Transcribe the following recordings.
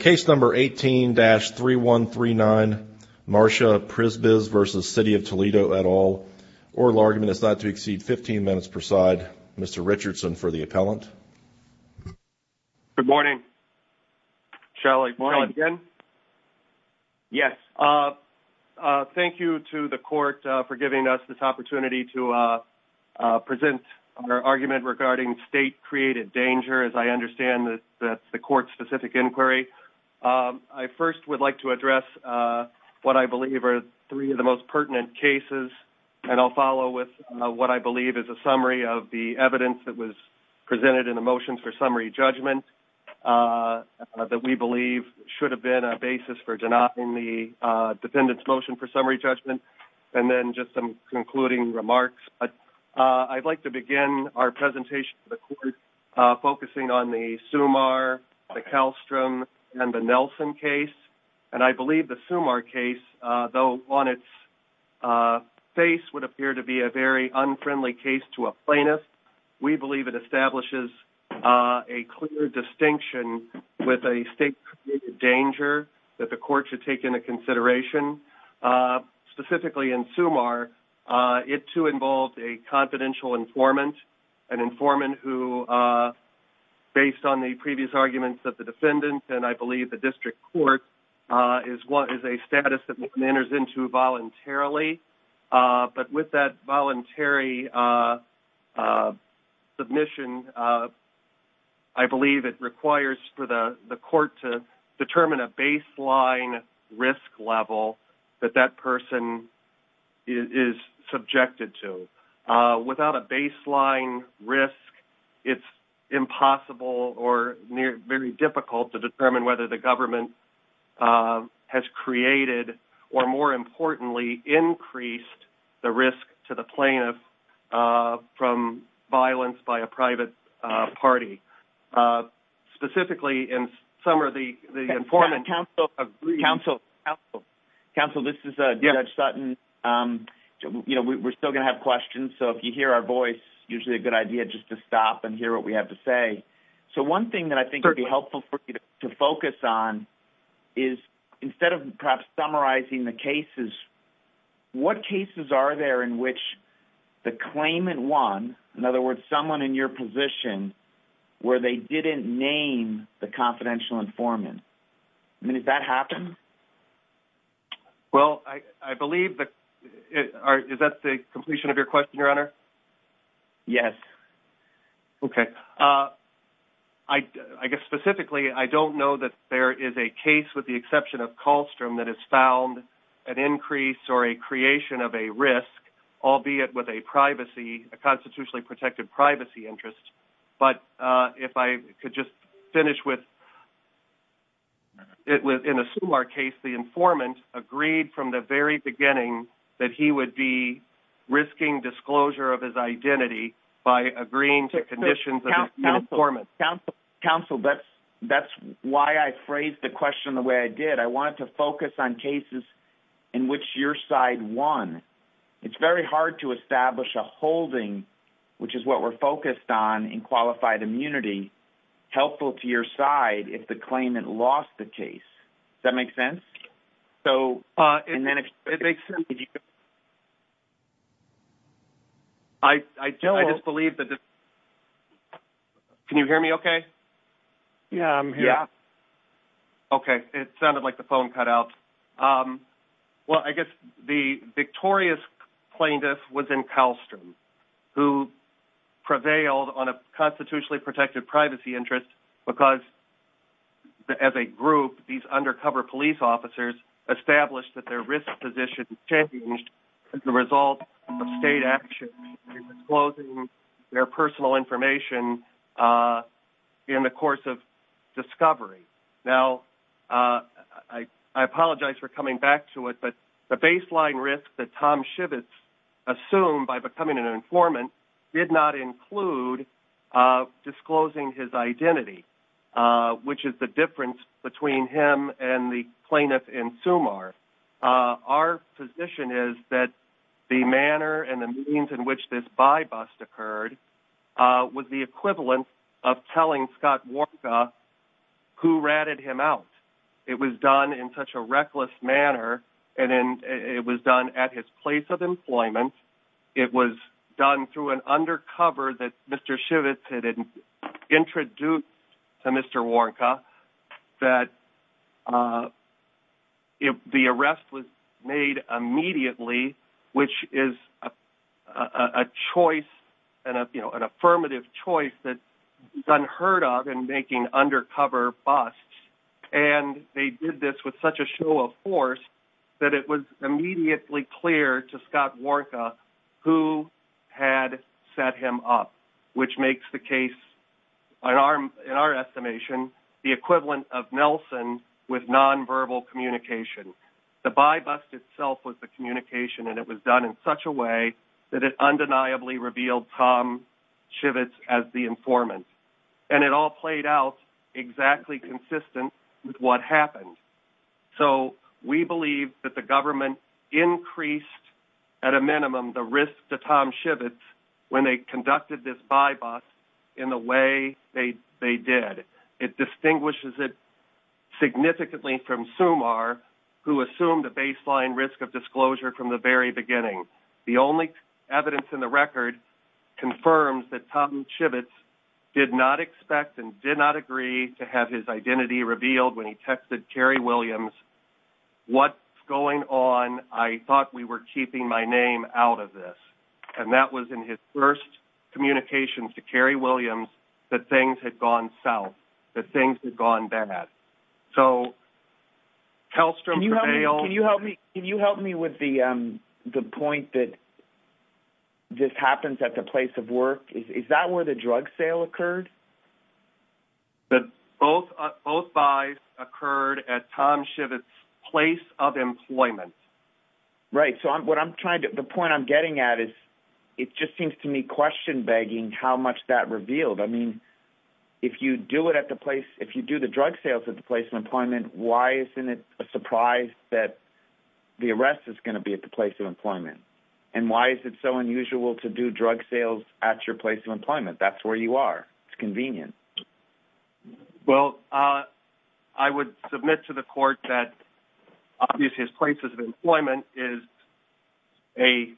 Case number 18-3139, Marsha Prisbys v. City of Toledo et al. Oral argument is not to exceed 15 minutes per side. Mr. Richardson for the appellant. Good morning. Shelley, morning again. Yes. Thank you to the court for giving us this opportunity to present our argument regarding state-created danger, as I understand that's the court-specific inquiry. I first would like to address what I believe are three of the most pertinent cases, and I'll follow with what I believe is a summary of the evidence that was presented in the motions for summary judgment that we believe should have been a basis for denying the defendant's motion for summary judgment, and then just some concluding remarks. I'd like to begin our presentation to the court focusing on the Sumar, the Kallstrom, and the Nelson case, and I believe the Sumar case, though on its face would appear to be a very unfriendly case to a plaintiff, we believe it establishes a clear distinction with a state-created danger that the court should take into consideration. Specifically in Sumar, it, too, involved a confidential informant, an informant who, based on the previous arguments of the defendant, and I believe the district court, is a status that one enters into voluntarily. But with that voluntary submission, I believe it requires for the court to determine a baseline risk level that that person is subjected to. Without a baseline risk, it's impossible or very difficult to determine whether the government has created, or more importantly, increased the risk to the plaintiff from violence by a private party. Specifically in Sumar, the informant... Counsel, this is Judge Sutton. We're still going to have questions, so if you hear our voice, it's usually a good idea just to stop and hear what we have to say. So one thing that I think would be helpful for you to focus on is, instead of perhaps summarizing the cases, what cases are there in which the claimant won, in other words, someone in your position, where they didn't name the confidential informant? I mean, did that happen? Well, I believe that... Is that the completion of your question, Your Honor? Yes. Okay. I guess specifically, I don't know that there is a case, with the exception of Kallstrom, that has found an increase or a creation of a risk, albeit with a privacy, a constitutionally protected privacy interest. But if I could just finish with... In a Sumar case, the informant agreed from the very beginning that he would be risking disclosure of his identity by agreeing to conditions of the informant. Counsel, that's why I phrased the question the way I did. I wanted to focus on cases in which your side won. It's very hard to establish a holding, which is what we're focused on in qualified immunity, helpful to your side if the claimant lost the case. Does that make sense? It makes sense. I just believe that... Can you hear me okay? Yeah, I'm here. Yeah. Okay. It sounded like the phone cut out. Well, I guess the victorious plaintiff was in Kallstrom, who prevailed on a constitutionally protected privacy interest because, as a group, these undercover police officers established that their risk position changed as a result of state actions in disclosing their personal information in the course of discovery. Now, I apologize for coming back to it, but the baseline risk that Tom Schivitz assumed by becoming an informant did not include disclosing his identity, which is the difference between him and the plaintiff in Sumar. Our position is that the manner and the means in which this by-bust occurred was the equivalent of telling Scott Warnka who ratted him out. It was done in such a reckless manner, and it was done at his place of employment. It was done through an undercover that Mr. Schivitz had introduced to Mr. Warnka, that the arrest was made immediately, which is a choice, an affirmative choice that is unheard of in making undercover busts. And they did this with such a show of force that it was immediately clear to Scott Warnka who had set him up, which makes the case, in our estimation, the equivalent of Nelson with nonverbal communication. The by-bust itself was the communication, and it was done in such a way that it undeniably revealed Tom Schivitz as the informant. And it all played out exactly consistent with what happened. So we believe that the government increased at a minimum the risk to Tom Schivitz when they conducted this by-bust in the way they did. It distinguishes it significantly from Sumar, who assumed a baseline risk of disclosure from the very beginning. The only evidence in the record confirms that Tom Schivitz did not expect and did not agree to have his identity revealed when he texted Carrie Williams, what's going on, I thought we were keeping my name out of this. And that was in his first communications to Carrie Williams that things had gone south, that things had gone bad. So Telstrom prevailed. Can you help me with the point that this happens at the place of work? Is that where the drug sale occurred? Both buys occurred at Tom Schivitz's place of employment. Right. So the point I'm getting at is it just seems to me question-begging how much that revealed. I mean, if you do the drug sales at the place of employment, why isn't it a surprise that the arrest is going to be at the place of employment? And why is it so unusual to do drug sales at your place of employment? That's where you are. It's convenient. Well, I would submit to the court that obviously his place of employment is an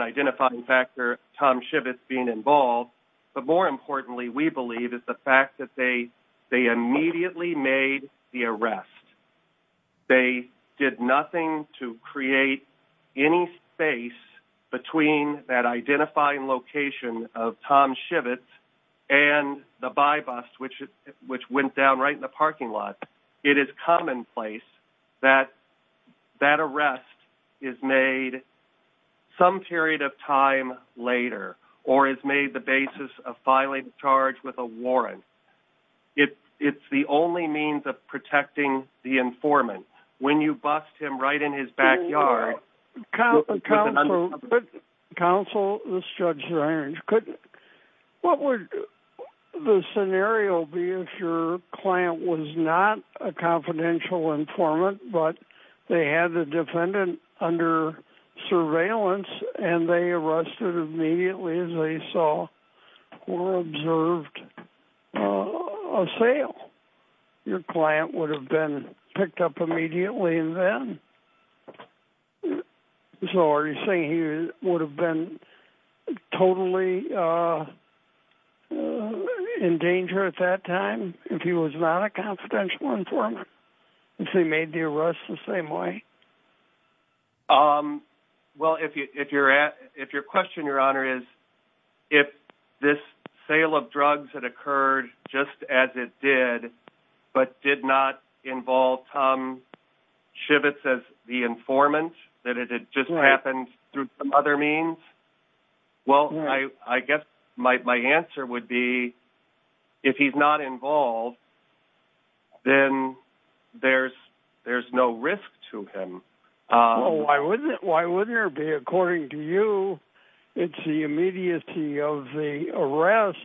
identifying factor, Tom Schivitz being involved. But more importantly, we believe, is the fact that they immediately made the arrest. They did nothing to create any space between that identifying location of Tom Schivitz and the buy bus, which went down right in the parking lot. It is commonplace that that arrest is made some period of time later or is made the basis of filing a charge with a warrant. It's the only means of protecting the informant. When you bust him right in his backyard with an undercover agent. Counsel, this is Judge Ziriner. What would the scenario be if your client was not a confidential informant but they had the defendant under surveillance and they arrested immediately as they saw or observed a sale? Your client would have been picked up immediately and then. So are you saying he would have been totally in danger at that time if he was not a confidential informant? If they made the arrest the same way? Well, if your question, Your Honor, is if this sale of drugs had occurred just as it did but did not involve Tom Schivitz as the informant, that it had just happened through some other means. Well, I guess my answer would be if he's not involved, then there's no risk to him. Why wouldn't there be? According to you, it's the immediacy of the arrest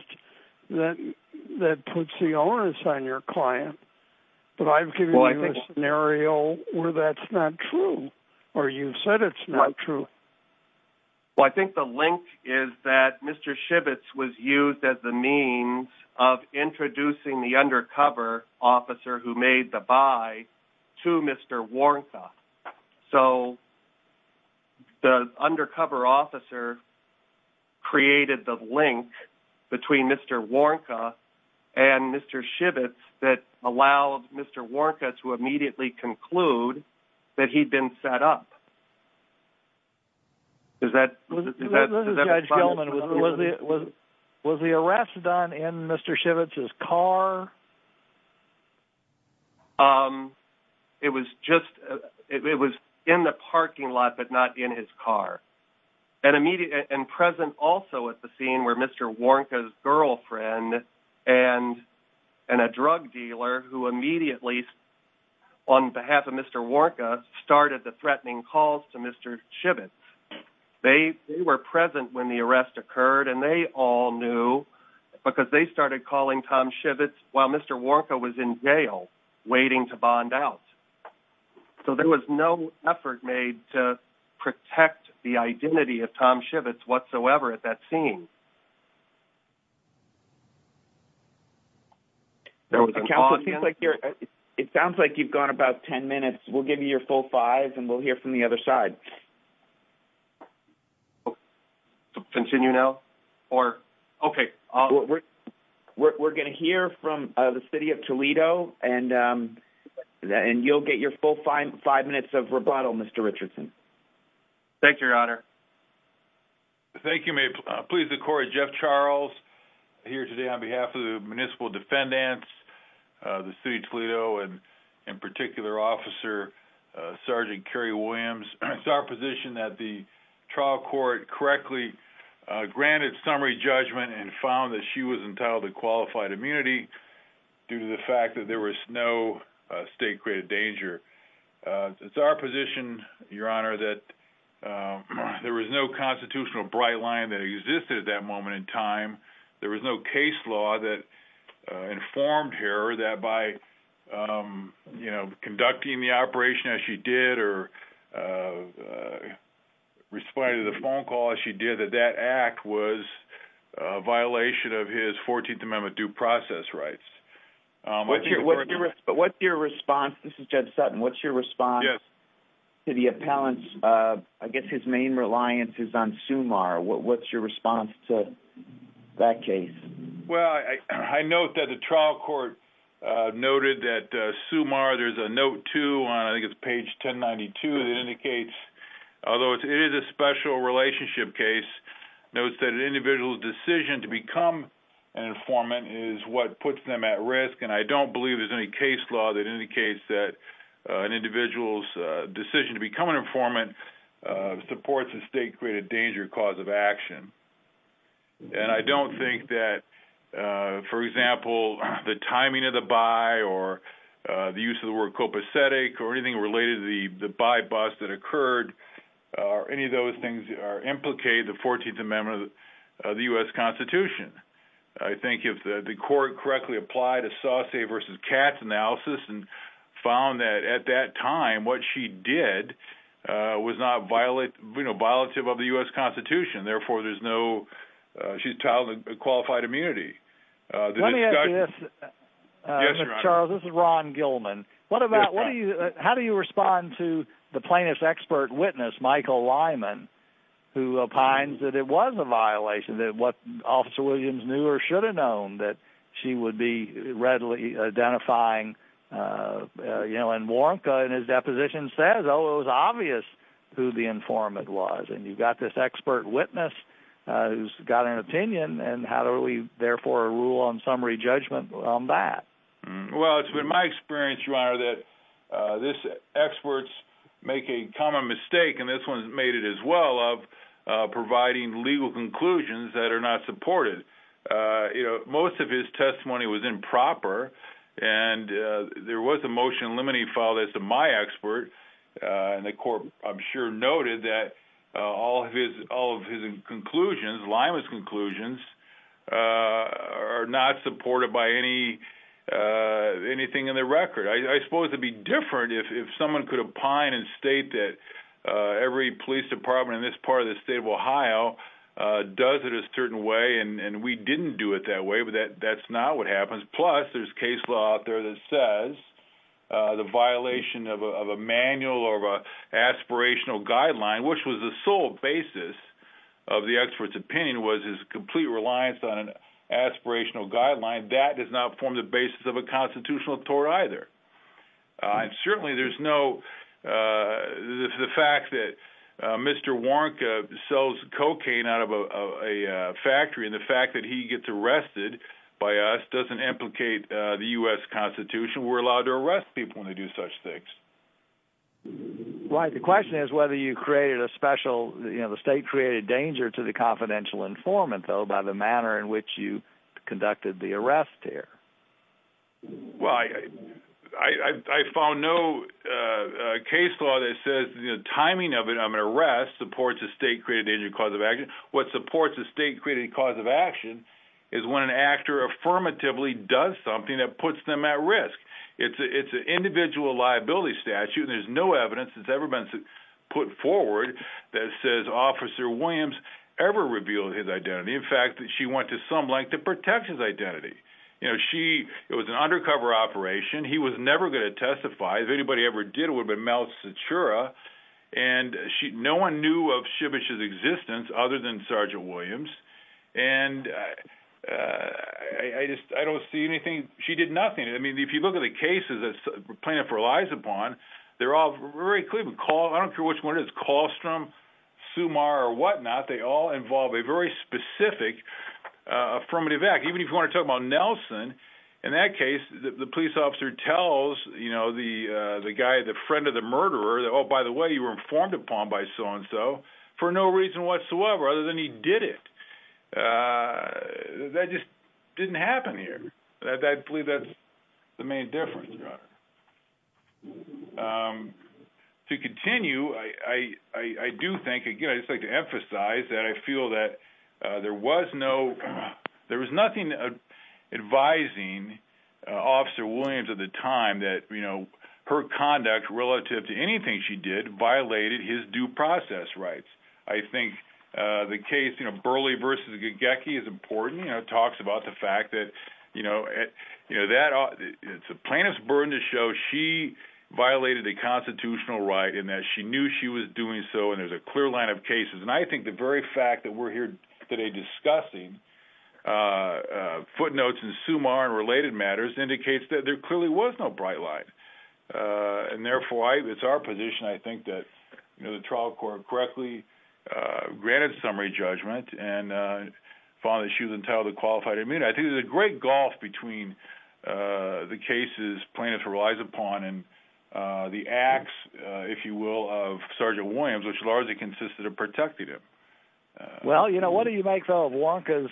that puts the onus on your client. But I've given you a scenario where that's not true or you've said it's not true. Well, I think the link is that Mr. Schivitz was used as the means of introducing the undercover officer who made the buy to Mr. Warnka. So the undercover officer created the link between Mr. Warnka and Mr. Schivitz that allowed Mr. Warnka to immediately conclude that he'd been set up. Was the arrest done in Mr. Schivitz's car? It was in the parking lot but not in his car. And present also at the scene were Mr. Warnka's girlfriend and a drug dealer who immediately, on behalf of Mr. Warnka, started the threatening calls to Mr. Schivitz. They were present when the arrest occurred and they all knew because they started calling Tom Schivitz while Mr. Warnka was in jail waiting to bond out. So there was no effort made to protect the identity of Tom Schivitz whatsoever at that scene. It sounds like you've gone about 10 minutes. We'll give you your full five and we'll hear from the other side. Continue now? We're going to hear from the city of Toledo and you'll get your full five minutes of rebuttal, Mr. Richardson. Thank you, Your Honor. Thank you. May it please the court, Jeff Charles here today on behalf of the municipal defendants, the city of Toledo, and in particular, Officer Sergeant Kerry Williams. It's our position that the trial court correctly granted summary judgment and found that she was entitled to qualified immunity due to the fact that there was no state-created danger. It's our position, Your Honor, that there was no constitutional bright line that existed at that moment in time. There was no case law that informed her that by conducting the operation as she did or responding to the phone call as she did that that act was a violation of his 14th Amendment due process rights. But what's your response? This is Judge Sutton. What's your response to the appellant's, I guess his main reliance is on Sumar. What's your response to that case? Well, I note that the trial court noted that Sumar, there's a note, too, on I think it's page 1092 that indicates, although it is a special relationship case, notes that an individual's decision to become an informant is what puts them at risk, and I don't believe there's any case law that indicates that an individual's decision to become an informant supports a state-created danger cause of action. And I don't think that, for example, the timing of the buy or the use of the word copacetic or anything related to the buy-bust that occurred or any of those things implicate the 14th Amendment of the U.S. Constitution. I think if the court correctly applied a saucier versus Katz analysis and found that at that time what she did was not violative of the U.S. Constitution, therefore there's no, she's entitled to qualified immunity. Let me ask you this. Yes, Your Honor. Charles, this is Ron Gilman. How do you respond to the plaintiff's expert witness, Michael Lyman, who opines that it was a violation, that what Officer Williams knew or should have known, that she would be readily identifying, you know, and Warnka in his deposition says, oh, it was obvious who the informant was, and you've got this expert witness who's got an opinion, and how do we, therefore, rule on summary judgment on that? Well, it's been my experience, Your Honor, that experts make a common mistake, and this one's made it as well, of providing legal conclusions that are not supported. You know, most of his testimony was improper, and there was a motion limiting the file. As to my expert, and the court I'm sure noted that all of his conclusions, Lyman's conclusions, are not supported by anything in the record. I suppose it would be different if someone could opine and state that every police department in this part of the state of Ohio does it a certain way and we didn't do it that way, but that's not what happens. Plus, there's case law out there that says the violation of a manual or of an aspirational guideline, which was the sole basis of the expert's opinion, was his complete reliance on an aspirational guideline. That does not form the basis of a constitutional tort either. And certainly there's no, the fact that Mr. Warnka sells cocaine out of a factory, and the fact that he gets arrested by us doesn't implicate the U.S. Constitution. We're allowed to arrest people when they do such things. Right. The question is whether you created a special, you know, the state created danger to the confidential informant, though, by the manner in which you conducted the arrest there. Well, I found no case law that says the timing of an arrest supports a state-created cause of action. What supports a state-created cause of action is when an actor affirmatively does something that puts them at risk. It's an individual liability statute. There's no evidence that's ever been put forward that says Officer Williams ever revealed his identity. In fact, she went to some length to protect his identity. You know, she, it was an undercover operation. He was never going to testify. If anybody ever did, it would have been Mel Citura. And she, no one knew of Shibish's existence other than Sergeant Williams. And I just, I don't see anything, she did nothing. I mean, if you look at the cases that plaintiff relies upon, they're all very clear. I don't care which one it is, Kallstrom, Sumar, or whatnot. They all involve a very specific affirmative act. The guy, the friend of the murderer, oh, by the way, you were informed upon by so-and-so for no reason whatsoever other than he did it. That just didn't happen here. I believe that's the main difference. To continue, I do think, again, I'd just like to emphasize that I feel that there was no, there was nothing advising Officer Williams at the time that, you know, her conduct relative to anything she did violated his due process rights. I think the case, you know, Burley v. Gagecki is important. You know, it talks about the fact that, you know, it's a plaintiff's burden to show she violated a constitutional right in that she knew she was doing so and there's a clear line of cases. And I think the very fact that we're here today discussing footnotes and Sumar and related matters indicates that there clearly was no bright light. And, therefore, it's our position, I think, that the trial court correctly granted summary judgment and found that she was entirely qualified. I mean, I think there's a great gulf between the cases plaintiffs relies upon and the acts, if you will, of Sergeant Williams, which largely consisted of protecting him. Well, you know, what do you make of Wonka's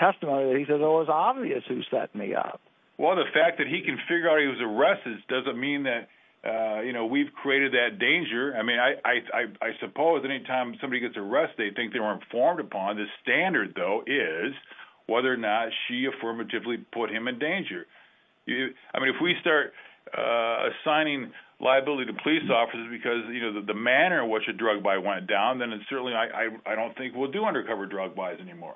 testimony that he said, well, it was obvious who set me up? Well, the fact that he can figure out he was arrested doesn't mean that, you know, we've created that danger. I mean, I suppose any time somebody gets arrested, they think they were informed upon. The standard, though, is whether or not she affirmatively put him in danger. I mean, if we start assigning liability to police officers because, you know, the manner in which a drug buy went down, then certainly I don't think we'll do undercover drug buys anymore.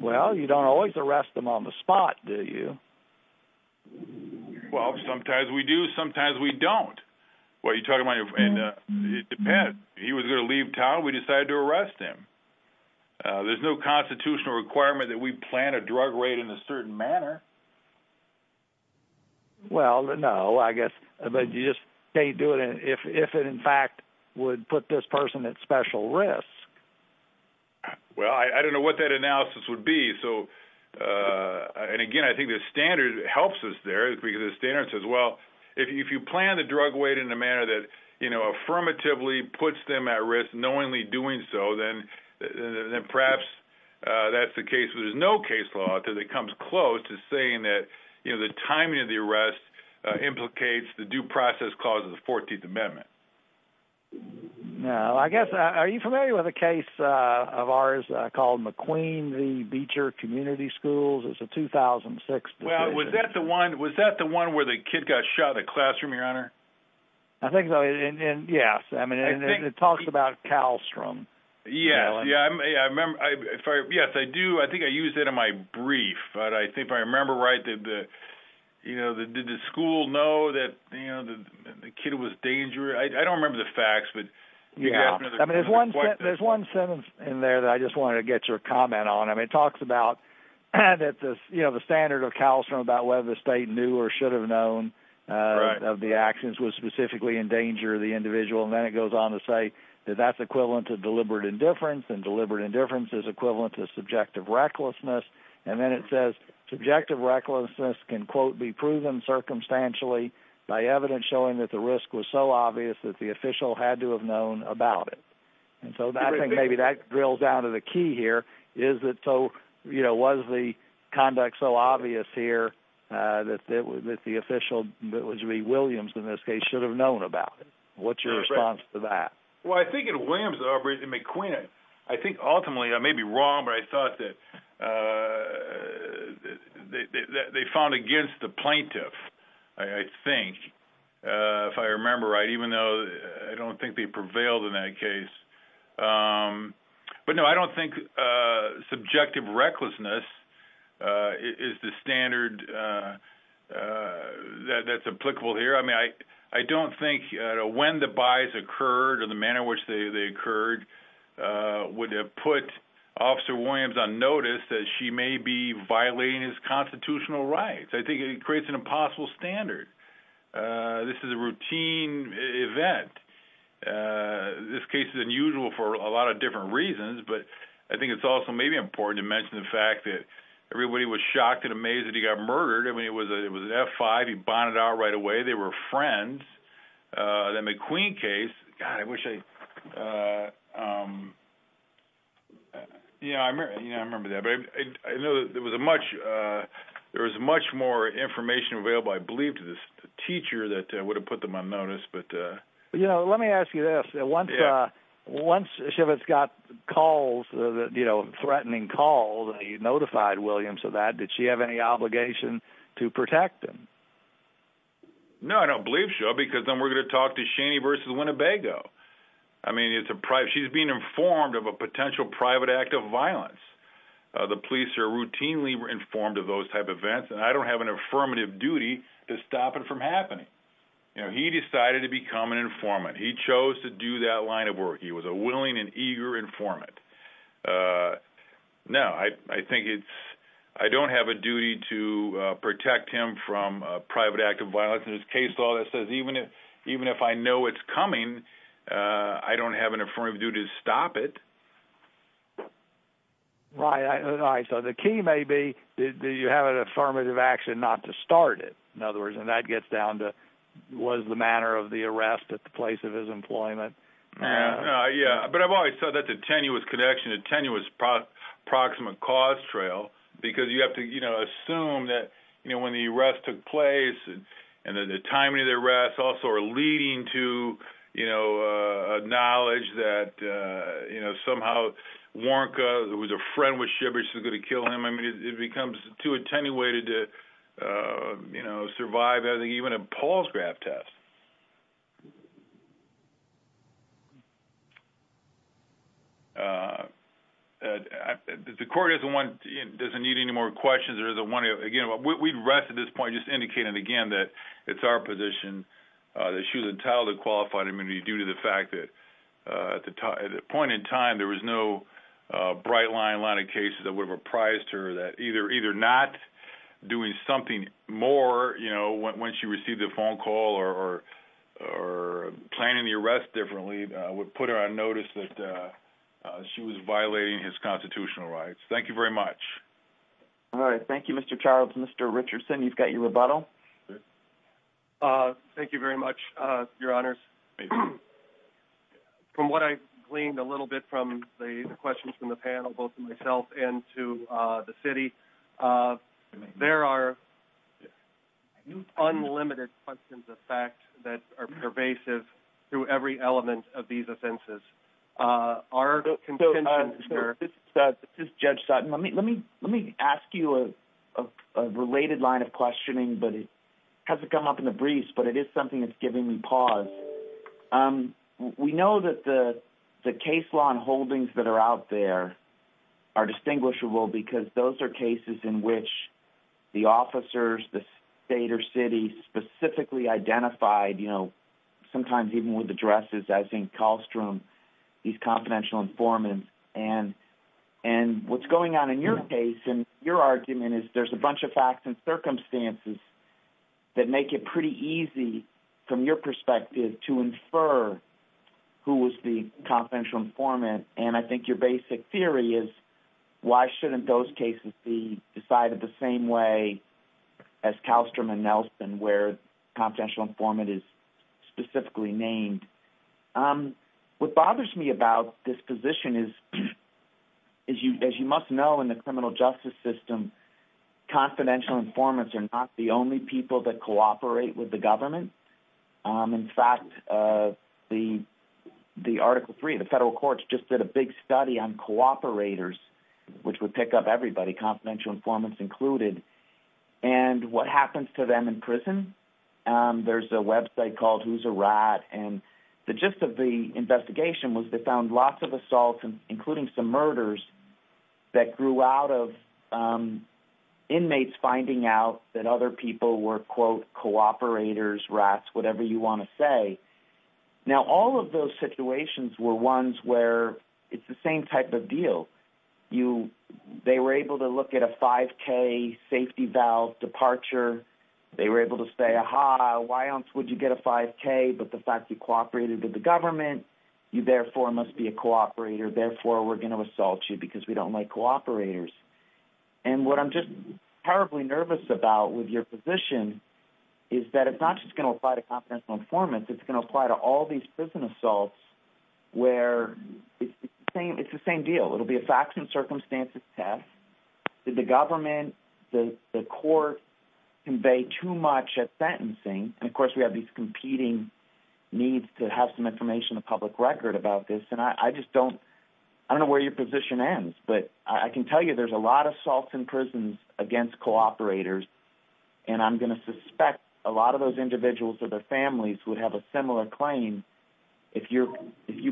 Well, you don't always arrest them on the spot, do you? Well, sometimes we do, sometimes we don't. Well, you're talking about your friend. It depends. He was going to leave town. We decided to arrest him. There's no constitutional requirement that we plan a drug raid in a certain manner. Well, no, I guess. But you just can't do it if it, in fact, would put this person at special risk. Well, I don't know what that analysis would be. And, again, I think the standard helps us there because the standard says, well, if you plan the drug raid in a manner that, you know, affirmatively puts them at risk, knowingly doing so, then perhaps that's the case. But there's no case law that comes close to saying that, you know, the timing of the arrest implicates the due process clause of the 14th Amendment. Now, I guess, are you familiar with a case of ours called McQueen v. Beecher Community Schools? It's a 2006 decision. Well, was that the one where the kid got shot in the classroom, Your Honor? I think so, yes. I mean, it talks about calstrum. Yes, I do. I think I used it in my brief. But I think if I remember right, did the school know that the kid was dangerous? I don't remember the facts. There's one sentence in there that I just wanted to get your comment on. I mean, it talks about, you know, the standard of calstrum, about whether the state knew or should have known of the actions was specifically in danger of the individual. And then it goes on to say that that's equivalent to deliberate indifference, and deliberate indifference is equivalent to subjective recklessness. And then it says subjective recklessness can, quote, be proven circumstantially by evidence showing that the risk was so obvious that the official had to have known about it. And so I think maybe that drills down to the key here is that so, you know, was the conduct so obvious here that the official, that would be Williams in this case, should have known about it. What's your response to that? Well, I think in Williams' operation, McQueen, I think ultimately, I may be wrong, but I thought that they fought against the plaintiff, I think, if I remember right, even though I don't think they prevailed in that case. But, no, I don't think subjective recklessness is the standard that's applicable here. I mean, I don't think when the buys occurred or the manner in which they occurred would have put Officer Williams on notice that she may be violating his constitutional rights. I think it creates an impossible standard. This is a routine event. This case is unusual for a lot of different reasons, but I think it's also maybe important to mention the fact that everybody was shocked and amazed that he got murdered. I mean, it was an F-5. He bonded out right away. They were friends. The McQueen case, God, I wish I – you know, I remember that. I know there was much more information available, I believe, to this teacher that would have put them on notice. You know, let me ask you this. Once Chivitz got calls, threatening calls, he notified Williams of that. Did she have any obligation to protect him? No, I don't believe so, because then we're going to talk to Cheney v. Winnebago. I mean, she's being informed of a potential private act of violence. The police are routinely informed of those type of events, and I don't have an affirmative duty to stop it from happening. You know, he decided to become an informant. He chose to do that line of work. He was a willing and eager informant. No, I think it's – I don't have a duty to protect him from a private act of violence. There's a case law that says even if I know it's coming, I don't have an affirmative duty to stop it. Right. So the key may be, do you have an affirmative action not to start it? In other words, and that gets down to, was the manner of the arrest at the place of his employment. Yeah, but I've always thought that the tenuous connection, a tenuous proximate cause trail, because you have to, you know, assume that, you know, when the arrest took place and the timing of the arrest also are leading to, you know, knowledge that, you know, somehow Warnka, who was a friend with Shibbert, she was going to kill him. I mean, it becomes too attenuated to, you know, survive even a Paul's graph test. The court doesn't want – doesn't need any more questions or doesn't want to – again, we rest at this point just indicating again that it's our position that she was entitled to qualified immunity due to the fact that at the point in time there was no bright line line of cases that would have apprised her that either not doing something more, you know, when she received the phone call or planning the arrest differently would put her on notice that she was violating his constitutional rights. Thank you very much. All right. Thank you, Mr. Charles. Mr. Richardson, you've got your rebuttal. Thank you very much, Your Honors. From what I gleaned a little bit from the questions from the panel, both myself and to the city, there are unlimited questions of fact that are pervasive through every element of these offenses. Our – This is Judge Sutton. Let me ask you a related line of questioning, but it hasn't come up in the briefs, but it is something that's giving me pause. We know that the case law and holdings that are out there are distinguishable because those are cases in which the officers, the state or city specifically identified, you know, sometimes even with addresses, I think Kallstrom, he's confidential informant, and what's going on in your case and your argument is there's a bunch of facts and circumstances that make it pretty easy from your perspective to infer who was the confidential informant, and I think your basic theory is why shouldn't those cases be decided the same way as Kallstrom and Nelson where confidential informant is specifically named. What bothers me about this position is, as you must know in the criminal justice system, confidential informants are not the only people that cooperate with the government. In fact, the Article 3 of the federal courts just did a big study on cooperators, which would pick up everybody, confidential informants included, and what happens to them in prison? There's a website called Who's a Rat, and the gist of the investigation was they found lots of assaults, including some murders, that grew out of inmates finding out that other people were, quote, cooperators, rats, whatever you want to say. Now, all of those situations were ones where it's the same type of deal. They were able to look at a 5K safety valve departure. They were able to say, aha, why else would you get a 5K but the fact you cooperated with the government, you therefore must be a cooperator, therefore we're going to assault you because we don't like cooperators. And what I'm just terribly nervous about with your position is that it's not just going to apply to confidential informants. It's going to apply to all these prison assaults where it's the same deal. It will be a facts and circumstances test. Did the government, the court, convey too much at sentencing? And, of course, we have these competing needs to have some information in the public record about this, and I just don't know where your position ends. But I can tell you there's a lot of assaults in prisons against cooperators, and I'm going to suspect a lot of those individuals or their families would have a similar claim if you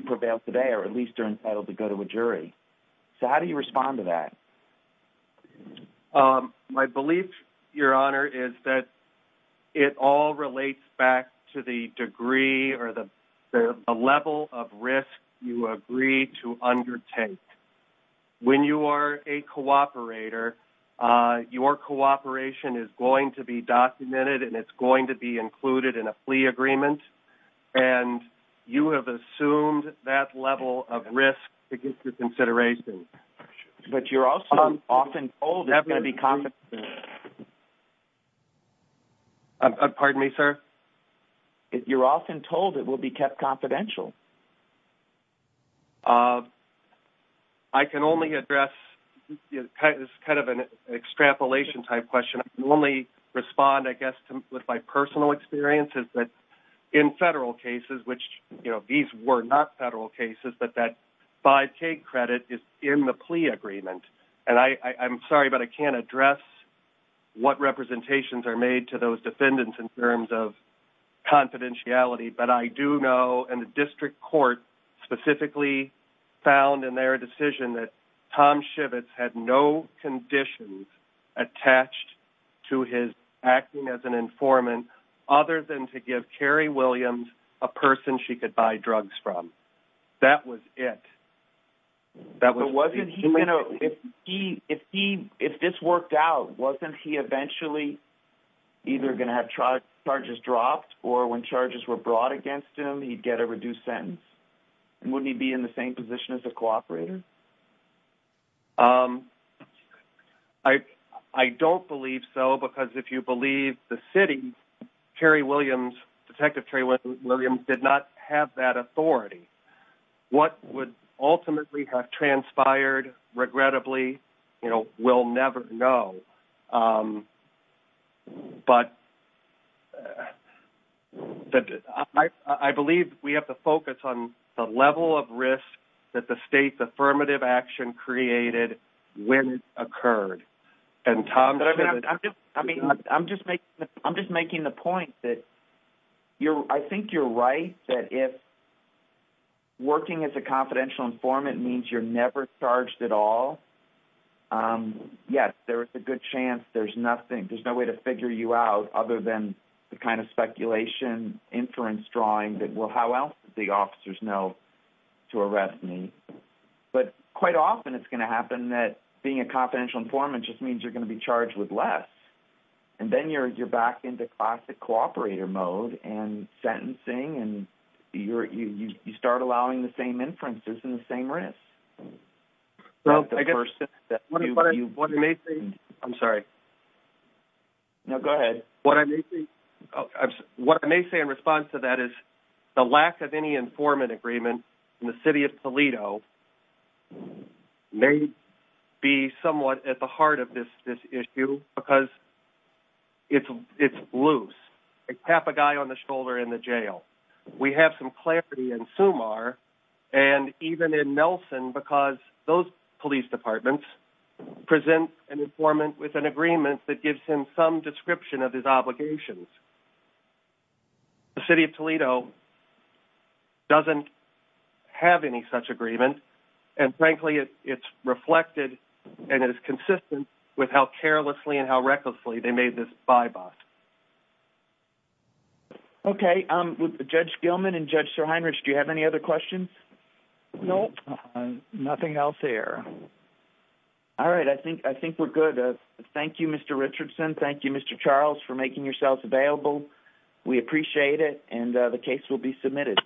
prevail today or at least are entitled to go to a jury. So how do you respond to that? My belief, Your Honor, is that it all relates back to the degree or the level of risk you agree to undertake. When you are a cooperator, your cooperation is going to be documented and it's going to be included in a plea agreement, and you have assumed that level of risk to get to consideration. But you're also often told it's going to be confidential. Pardon me, sir? You're often told it will be kept confidential. I can only address kind of an extrapolation type question. I can only respond, I guess, with my personal experiences, but in federal cases, which these were not federal cases, but that 5K credit is in the plea agreement. And I'm sorry, but I can't address what representations are made to those defendants in terms of confidentiality, but I do know, and the district court specifically found in their decision, that Tom Schivitz had no conditions attached to his acting as an informant other than to give Carrie Williams a person she could buy drugs from. That was it. If this worked out, wasn't he eventually either going to have charges dropped or when charges were brought against him, he'd get a reduced sentence? Wouldn't he be in the same position as a cooperator? I don't believe so, because if you believe the city, Carrie Williams, Detective Carrie Williams, did not have that authority. What would ultimately have transpired, regrettably, we'll never know. But I believe we have to focus on the level of risk that the state's affirmative action created when it occurred. I'm just making the point that I think you're right, that if working as a confidential informant means you're never charged at all, yes, there is a good chance there's nothing, there's no way to figure you out other than the kind of speculation, inference drawing that, well, how else did the officers know to arrest me? But quite often it's going to happen that being a confidential informant just means you're going to be charged with less, and then you're back into classic cooperator mode and sentencing, and you start allowing the same inferences and the same risks. What I may say in response to that is the lack of any informant agreement in the city of Toledo may be somewhat at the heart of this issue because it's loose. Tap a guy on the shoulder in the jail. We have some clarity in Sumar and even in Nelson because those police departments present an informant with an agreement that gives him some description of his obligations. The city of Toledo doesn't have any such agreement, and frankly it's reflected and it is consistent with how carelessly and how recklessly they made this by-pass. Okay, Judge Gilman and Judge Sirheinrich, do you have any other questions? No, nothing else here. All right, I think we're good. Thank you, Mr. Richardson. Thank you, Mr. Charles, for making yourselves available. We appreciate it, and the case will be submitted.